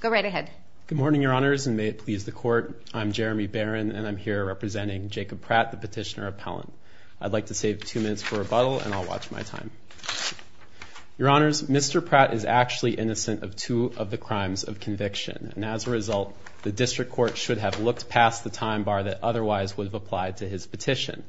Go right ahead. Good morning your honors and may it please the court I'm Jeremy Barron and I'm here representing Jacob Pratt the petitioner appellant. I'd like to save two minutes for rebuttal and I'll watch my time. Your honors Mr. Pratt is actually innocent of two of the crimes of conviction and as a result the district court should have looked past the time bar that otherwise would have applied to his petition.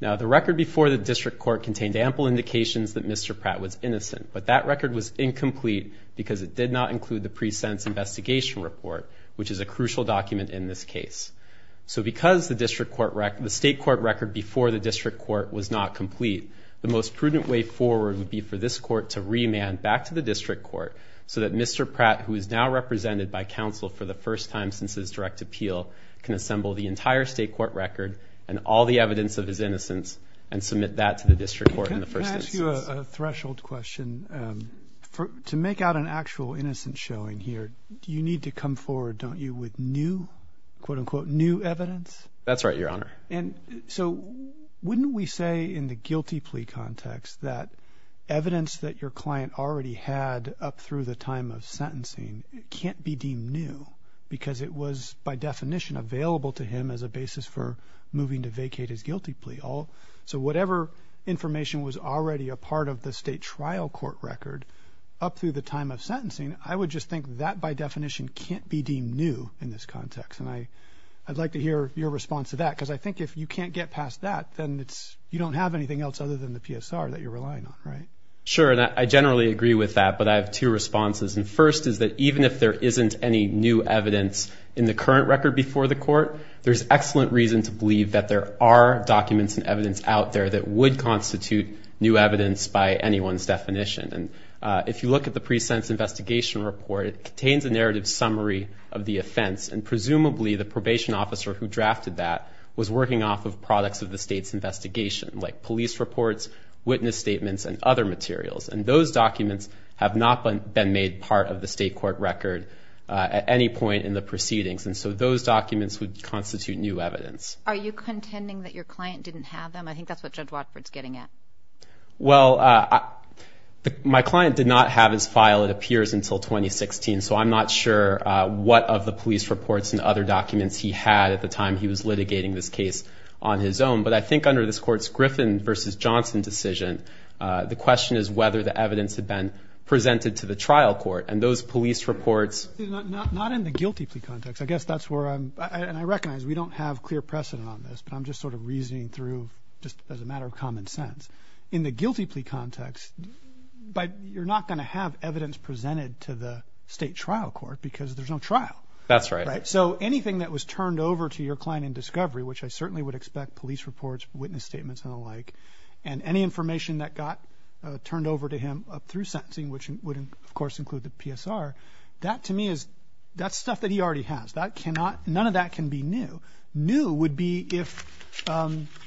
Now the record before the district court contained ample indications that Mr. Pratt was innocent but that record was incomplete because it did not include the pre-sentence investigation report which is a crucial document in this case. So because the district court record the state court record before the district court was not complete the most prudent way forward would be for this court to remand back to the district court so that Mr. Pratt who is now represented by counsel for the first time since his direct appeal can assemble the entire state court record and all the evidence of his innocence and submit that to the district court in the first instance. Can I ask you a threshold question for to make out an actual innocent showing here do you need to come forward don't you with new quote-unquote new evidence? That's right your honor. And so wouldn't we say in the guilty plea context that evidence that your client already had up through the time of sentencing can't be deemed new because it was by definition available to him as a basis for moving to vacate his guilty plea all so whatever information was already a part of the state trial court record up through the time of sentencing I would just think that by definition can't be deemed new in this context and I I'd like to hear your response to that because I think if you can't get past that then it's you don't have anything else other than the PSR that you're relying on right? Sure I generally agree with that but I have two responses and first is that even if there isn't any new evidence in the current record before the court there's excellent reason to believe that there are documents and evidence out there that would constitute new evidence by anyone's definition and if you look at the pre-sentence investigation report it contains a narrative summary of the offense and presumably the probation officer who drafted that was working off of products of the state's investigation like police reports witness statements and other materials and those documents have not been made part of the state court record at any point in the proceedings and so those documents would constitute new evidence. Are you contending that your client didn't have them? I think that's what Judge Watford's getting at. Well my client did not have his file it appears until 2016 so I'm not sure what of the police reports and other documents he had at the time he was litigating this case on his own but I think under this courts Griffin versus Johnson decision the question is whether the evidence had been presented to the trial court and those police reports. Not in the guilty plea context I guess that's where I'm and I recognize we don't have clear precedent on this but I'm just sort of just as a matter of common sense in the guilty plea context but you're not going to have evidence presented to the state trial court because there's no trial. That's right. So anything that was turned over to your client in discovery which I certainly would expect police reports witness statements and alike and any information that got turned over to him up through sentencing which wouldn't of course include the PSR that to me is that's stuff that he already has that none of that can be new. New would be if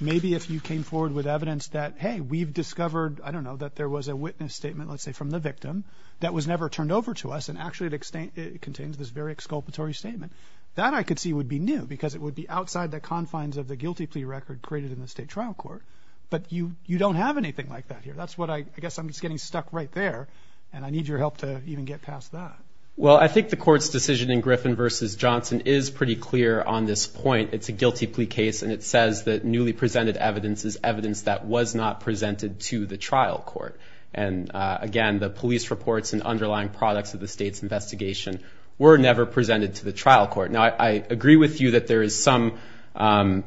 maybe if you came forward with evidence that hey we've discovered I don't know that there was a witness statement let's say from the victim that was never turned over to us and actually it contains this very exculpatory statement that I could see would be new because it would be outside the confines of the guilty plea record created in the state trial court but you you don't have anything like that here that's what I guess I'm just getting stuck right there and I need your help to even get past that. Well I think the court's decision in Griffin versus Johnson is pretty clear on this point it's a guilty plea case and it says that newly presented evidence is evidence that was not presented to the trial court and again the police reports and underlying products of the state's investigation were never presented to the trial court. Now I agree with you that there is some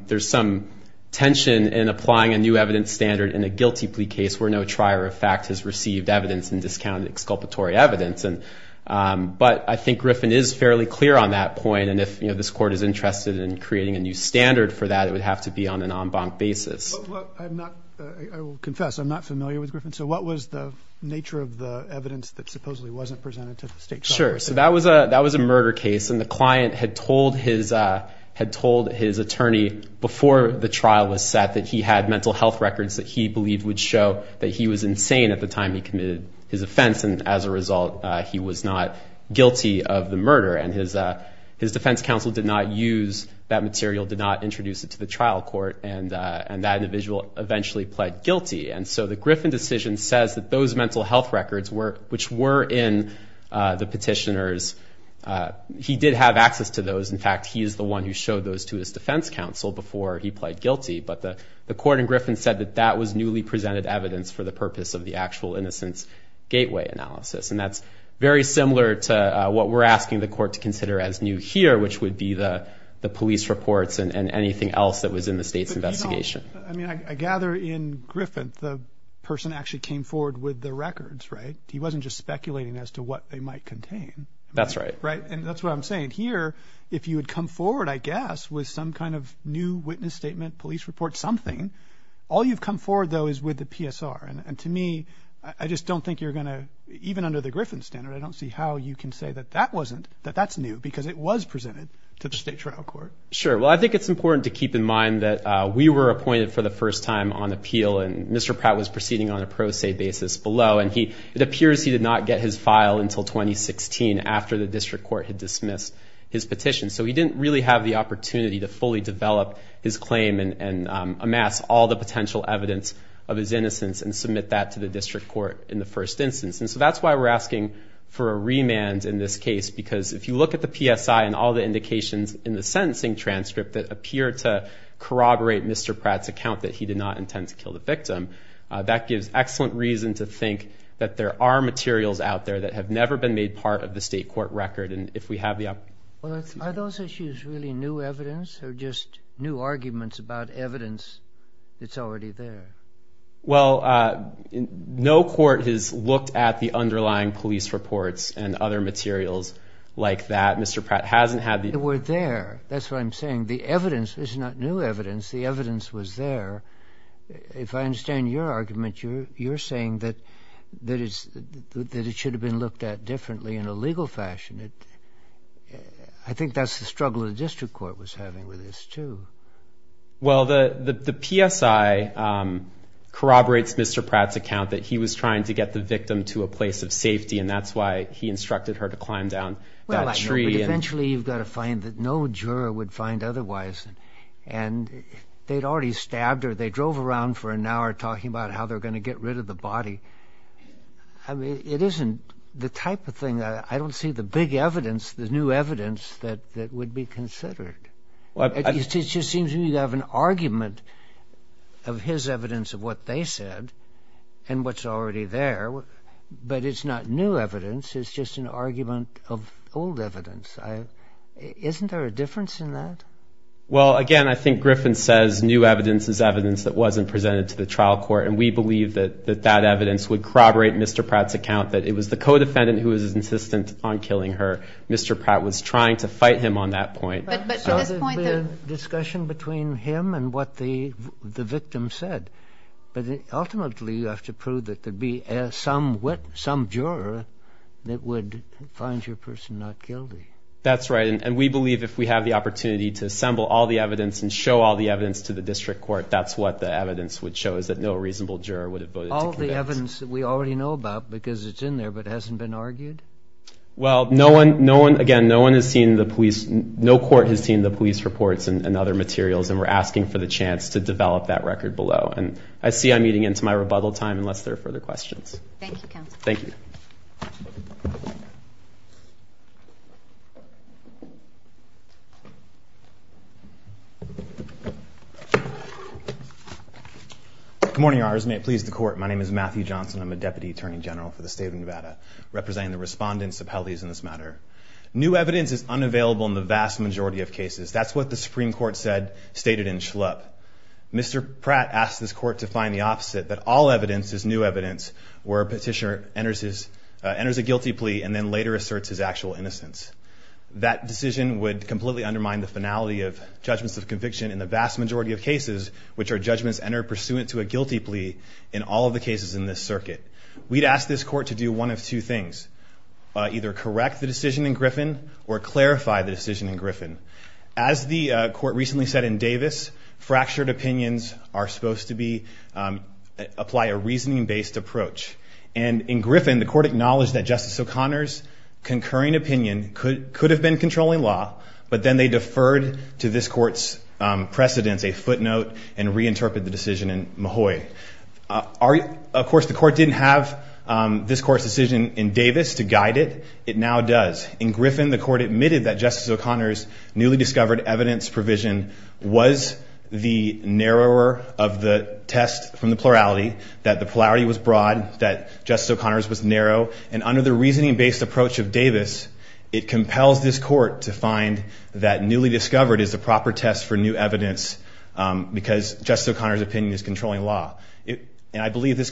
there's some tension in applying a new evidence standard in a guilty plea case where no trier of fact has received evidence and discounted exculpatory evidence and but I think Griffin is fairly clear on that point and if you know this court is interested in creating a new standard for that it would have to be on an en banc basis. I confess I'm not familiar with Griffin so what was the nature of the evidence that supposedly wasn't presented to the state? Sure so that was a that was a murder case and the client had told his had told his attorney before the trial was set that he had mental health records that he believed would show that he was insane at the time he committed his assault he was not guilty of the murder and his his defense counsel did not use that material did not introduce it to the trial court and and that individual eventually pled guilty and so the Griffin decision says that those mental health records were which were in the petitioners he did have access to those in fact he is the one who showed those to his defense counsel before he pled guilty but the the court in Griffin said that that was newly presented evidence for the purpose of the actual innocence gateway analysis and that's very similar to what we're asking the court to consider as new here which would be the the police reports and anything else that was in the state's investigation. I mean I gather in Griffin the person actually came forward with the records right he wasn't just speculating as to what they might contain that's right right and that's what I'm saying here if you would come forward I guess with some kind of new witness statement police report something all you've come forward though is with the PSR and to me I just don't think you're gonna even under the Griffin standard I don't see how you can say that that wasn't that that's new because it was presented to the state trial court. Sure well I think it's important to keep in mind that we were appointed for the first time on appeal and Mr. Pratt was proceeding on a pro se basis below and he it appears he did not get his file until 2016 after the district court had dismissed his petition so he didn't really have the opportunity to fully develop his claim and amass all the potential evidence of his innocence and submit that to the district court in the first instance and so that's why we're asking for a remand in this case because if you look at the PSI and all the indications in the sentencing transcript that appear to corroborate Mr. Pratt's account that he did not intend to kill the victim that gives excellent reason to think that there are materials out there that have never been made part of the state court record and if we have the... Are those issues really new evidence or just new arguments about evidence that's already there? Well no court has looked at the underlying police reports and other materials like that Mr. Pratt hasn't had the... They were there that's what I'm saying the evidence is not new evidence the evidence was there if I understand your argument you're you're saying that that is that it should have been looked at differently in a legal fashion it I think that's the struggle the district court was having with this too. Well the the PSI corroborates Mr. Pratt's account that he was trying to get the victim to a place of safety and that's why he instructed her to climb down that tree and eventually you've got to find that no juror would find otherwise and they'd already stabbed her they drove around for an hour talking about how they're gonna get rid of the body I mean it isn't the type of thing that I don't see the big evidence the new evidence that that would be considered. It just seems you have an argument of his evidence of what they said and what's already there but it's not new evidence it's just an argument of old evidence. Isn't there a difference in that? Well again I think Griffin says new evidence is evidence that wasn't presented to the trial court and we believe that that evidence would corroborate Mr. Pratt's account that it was the co-defendant who was insistent on killing her. Mr. Pratt was trying to fight him on that point. But the discussion between him and what the the victim said but ultimately you have to prove that there'd be some wit some juror that would find your person not guilty. That's right and we believe if we have the opportunity to assemble all the evidence and show all the evidence to the district court that's what the evidence would show is that no reasonable juror would have voted. All the evidence that we Well no one no one again no one has seen the police no court has seen the police reports and other materials and we're asking for the chance to develop that record below and I see I'm eating into my rebuttal time unless there are further questions. Thank you counsel. Thank you. Good morning your honors may it please the court my name is Matthew Johnson I'm a deputy attorney general for the state of Nevada representing the respondents of the case and I'd like to make a few finalities in this matter. New evidence is unavailable in the vast majority of cases that's what the Supreme Court said stated in Schlupp. Mr. Pratt asked this court to find the opposite that all evidence is new evidence where a petitioner enters his enters a guilty plea and then later asserts his actual innocence. That decision would completely undermine the finality of judgments of conviction in the vast majority of cases which are judgments enter pursuant to a guilty plea in all of the cases in this case. The question is whether to correct the decision in Griffin or clarify the decision in Griffin. As the court recently said in Davis fractured opinions are supposed to be apply a reasoning based approach and in Griffin the court acknowledged that Justice O'Connor's concurring opinion could could have been controlling law but then they deferred to this court's precedents a footnote and reinterpret the decision in Mahoy. Of course the court didn't have this court's decision in Davis to guide it it now does. In Griffin the court admitted that Justice O'Connor's newly discovered evidence provision was the narrower of the test from the plurality that the polarity was broad that Justice O'Connor's was narrow and under the reasoning based approach of Davis it compels this court to find that newly discovered is the proper test for new evidence because Justice O'Connor's opinion is controlling law it and I believe this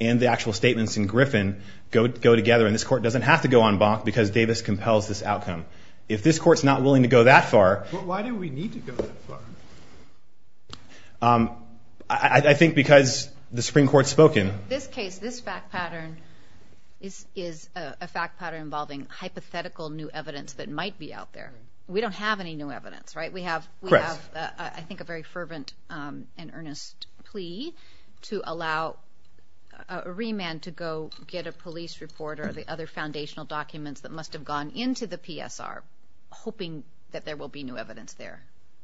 and the actual statements in Griffin go together and this court doesn't have to go on bonk because Davis compels this outcome. If this courts not willing to go that far I think because the Supreme Court spoken. This case this fact pattern is is a fact pattern involving hypothetical new evidence that might be out there we don't have any new evidence right we have we have I think a very remand to go get a police report or the other foundational documents that must have gone into the PSR hoping that there will be new evidence there.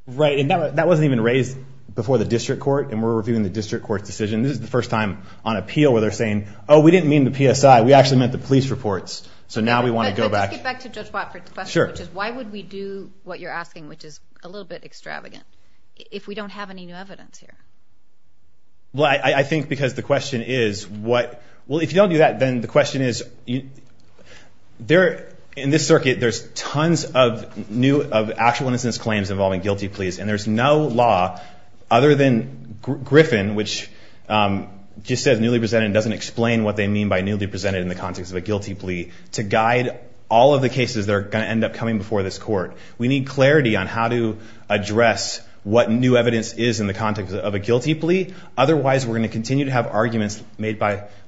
Right and that wasn't even raised before the district court and we're reviewing the district court's decision this is the first time on appeal where they're saying oh we didn't mean the PSI we actually meant the police reports so now we want to go back. Why would we do what you're asking which is a little bit extravagant if we don't have any new evidence here? Well I think because the well if you don't do that then the question is you there in this circuit there's tons of new of actual innocence claims involving guilty pleas and there's no law other than Griffin which just says newly presented doesn't explain what they mean by newly presented in the context of a guilty plea to guide all of the cases that are going to end up coming before this court. We need clarity on how to address what new evidence is in the context of a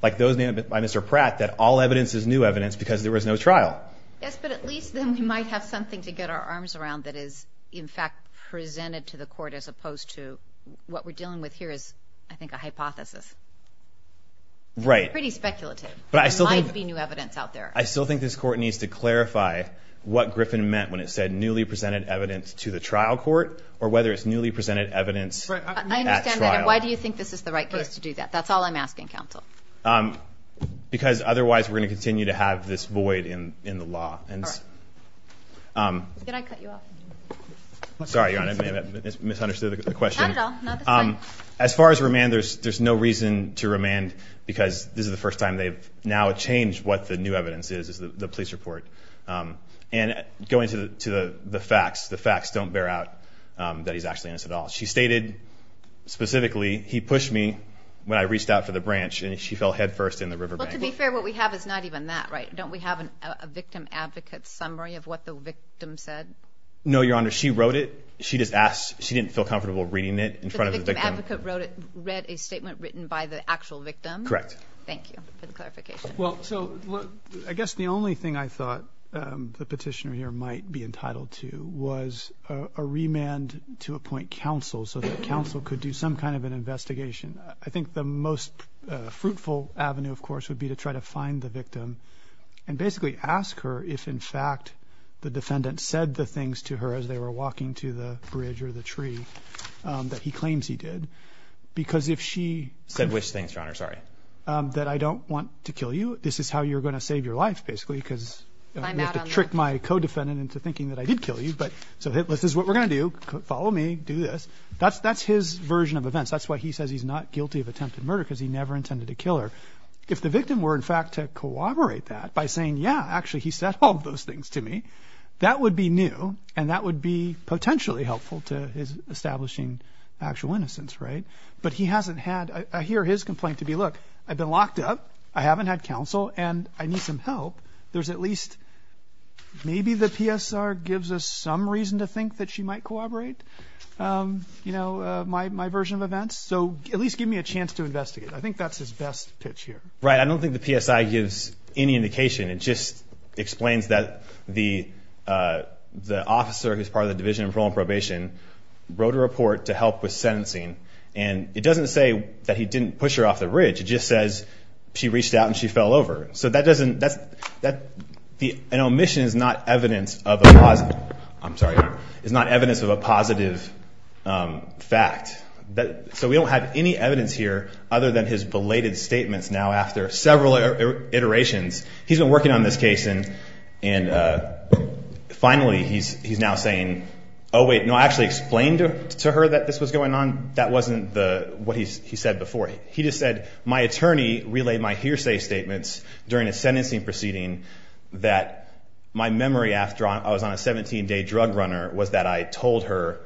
like those named by Mr. Pratt that all evidence is new evidence because there was no trial. Yes but at least then we might have something to get our arms around that is in fact presented to the court as opposed to what we're dealing with here is I think a hypothesis. Right. Pretty speculative. But I still might be new evidence out there. I still think this court needs to clarify what Griffin meant when it said newly presented evidence to the trial court or whether it's newly presented evidence. Why do you think this is the right place to do that? That's all I'm asking counsel. Um because otherwise we're going to continue to have this void in in the law. And um did I cut you off? Sorry your honor misunderstood the question. Um as far as remand there's there's no reason to remand because this is the first time they've now changed what the new evidence is is the police report. Um and going to the facts, the facts don't bear out um that he's actually in this at all. She stated specifically he pushed me when I reached out for the branch and she fell headfirst in the river. But to be fair, what we have is not even that right. Don't we have a victim advocate summary of what the victim said? No, your honor. She wrote it. She just asked. She didn't feel comfortable reading it in front of the victim. Advocate wrote it, read a statement written by the actual victim. Correct. Thank you for the clarification. Well, so I guess the only thing I thought the petitioner here might be entitled to was a remand to appoint counsel so that counsel could do some kind of an investigation. I think the most fruitful avenue of course would be to try to find the victim and basically ask her if in fact the defendant said the things to her as they were walking to the bridge or the tree um that he claims he did because if she said which things your honor sorry um that I don't want to kill you. This is how you're going to save your life basically because you have to trick my co defendant into thinking that I did kill you. But so hit list is what we're gonna do. Follow me, do this. That's that's his version of events. That's why he says he's not guilty of attempted murder because he never intended to kill her. If the victim were in fact to corroborate that by saying yeah actually he said all those things to me that would be new and that would be potentially helpful to establishing actual innocence. Right. But he hasn't had I hear his complaint to be look, I've been locked up, I haven't had counsel and I need some help. There's at least maybe the PSR gives us some reason to think that she might corroborate um you know my my version of events. So at least give me a chance to investigate. I think that's his best pitch here. Right. I don't think the PSI gives any indication. It just explains that the uh the officer who's part of the division of parole and probation wrote a report to help with sentencing and it doesn't say that he didn't push her off the ridge. It just says she reached out and she fell over. So that doesn't that's that an omission is not evidence of a positive. I'm sorry. It's not evidence of a positive um fact that so we don't have any evidence here other than his belated statements. Now after several iterations he's been working on this case and and uh finally he's he's now saying oh wait no actually explained to her that this was going on. That wasn't the what he's he said before. He just said my attorney relayed my hearsay statements during a sentencing proceeding that my memory after I was on a 17-day drug runner was that I told her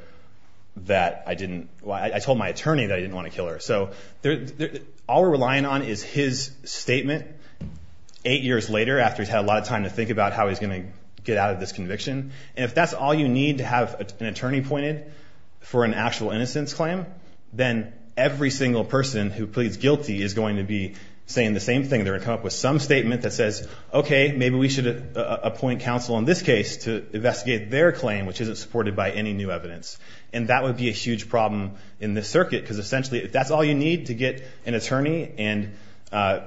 that I didn't well I told my attorney that I didn't want to kill her. So all we're relying on is his statement eight years later after he's had a lot of time to think about how he's gonna get out of this conviction and if that's all you need to have an attorney pointed for an actual innocence claim then every single person who pleads guilty is going to be saying the same thing. They're gonna come up with some statement that says okay maybe we should appoint counsel in this case to investigate their claim which isn't supported by any new evidence and that would be a huge problem in this circuit because essentially if that's all you need to get an attorney and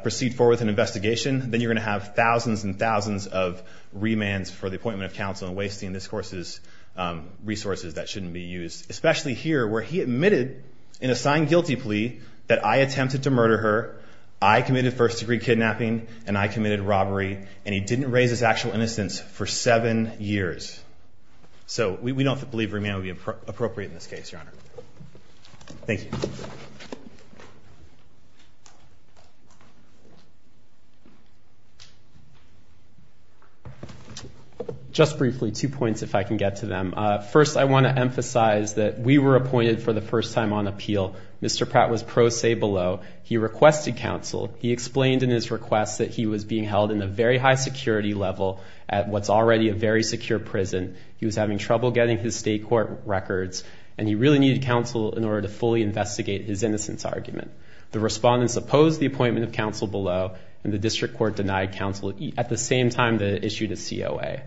proceed forward with an investigation then you're gonna have thousands and thousands of remands for the appointment of counsel and wasting this course's where he admitted in a signed guilty plea that I attempted to murder her I committed first-degree kidnapping and I committed robbery and he didn't raise his actual innocence for seven years. So we don't believe remand would be appropriate in this case your honor. Thank you. Just briefly two points if I can get to them. First I want to emphasize that we were appointed for the first time on appeal. Mr. Pratt was pro se below. He requested counsel. He explained in his requests that he was being held in a very high security level at what's already a very secure prison. He was having trouble getting his state court records and he really needed counsel in order to fully investigate his innocence argument. The respondents opposed the appointment of counsel below and the district court denied counsel at the same time that issued a COA.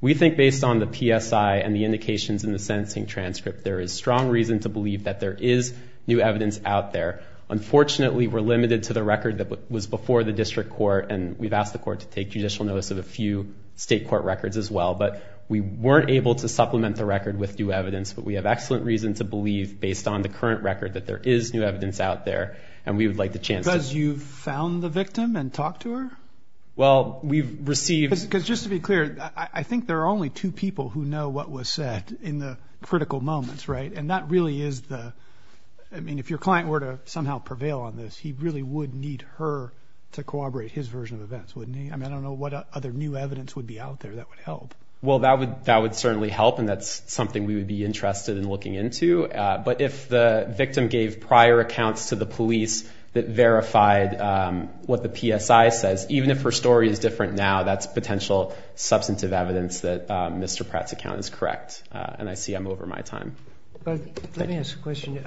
We think based on the PSI and the indications in the sentencing transcript there is strong reason to believe that there is new evidence out there. Unfortunately we're limited to the record that was before the district court and we've asked the court to take judicial notice of a few state court records as well but we weren't able to supplement the record with new evidence but we have excellent reason to believe based on the current record that there is new evidence out there and we would like the chance. Because you found the victim and talked to her? Well we've received. Because just to be critical moments right and that really is the I mean if your client were to somehow prevail on this he really would need her to corroborate his version of events wouldn't he? I mean I don't know what other new evidence would be out there that would help. Well that would that would certainly help and that's something we would be interested in looking into but if the victim gave prior accounts to the police that verified what the PSI says even if her story is different now that's potential substantive evidence that Mr. Pratt's correct and I see I'm over my time. Let me ask a question.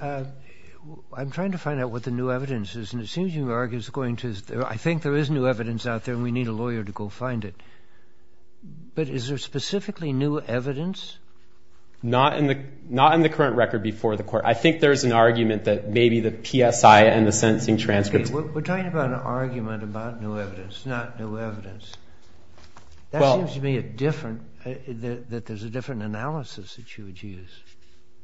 I'm trying to find out what the new evidence is and it seems you argue it's going to I think there is new evidence out there and we need a lawyer to go find it but is there specifically new evidence? Not in the not in the current record before the court I think there's an argument that maybe the PSI and the sentencing transcripts. We're talking about an argument about new evidence not new evidence. That seems to that there's a different analysis that you would use.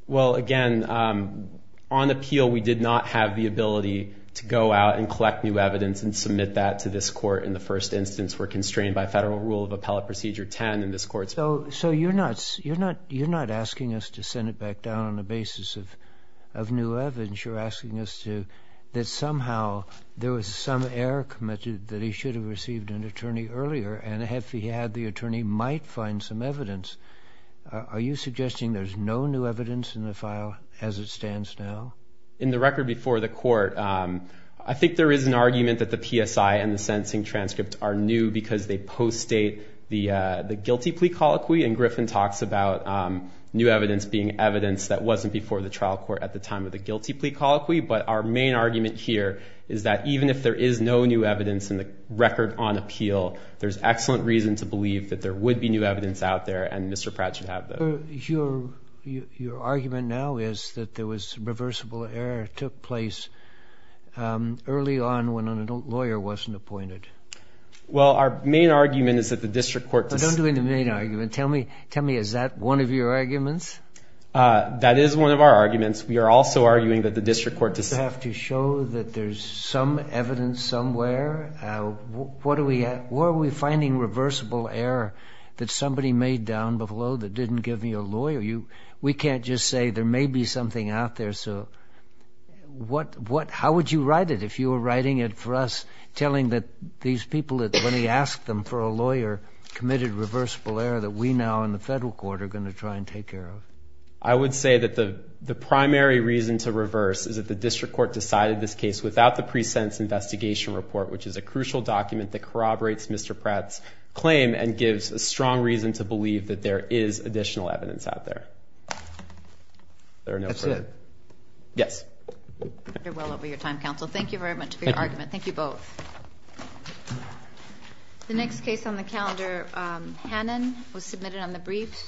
Well again on appeal we did not have the ability to go out and collect new evidence and submit that to this court in the first instance were constrained by federal rule of appellate procedure 10 in this court. So so you're not you're not you're not asking us to send it back down on the basis of of new evidence you're asking us to that somehow there was some error committed that he should have received an attorney earlier and if he had the attorney might find some evidence. Are you suggesting there's no new evidence in the file as it stands now? In the record before the court I think there is an argument that the PSI and the sentencing transcripts are new because they post state the the guilty plea colloquy and Griffin talks about new evidence being evidence that wasn't before the trial court at the time of the guilty plea colloquy but our main argument here is that even if there is no new evidence in the record on appeal there's excellent reason to believe that there would be new evidence out there and Mr. Pratt should have them. Your argument now is that there was reversible error took place early on when an adult lawyer wasn't appointed. Well our main argument is that the district court. Don't do the main argument tell me tell me is that one of your arguments? That is one of our arguments we are also arguing that the evidence somewhere what are we at where are we finding reversible error that somebody made down below that didn't give me a lawyer you we can't just say there may be something out there so what what how would you write it if you were writing it for us telling that these people that when he asked them for a lawyer committed reversible error that we now in the federal court are going to try and take care of. I would say that the the primary reason to reverse is that the district court decided this case without the pre-sentence investigation report which is a crucial document that corroborates Mr. Pratt's claim and gives a strong reason to believe that there is additional evidence out there. Yes. Thank you very much for your argument. Thank you both. The next case on the calendar Hannon was submitted on the briefs.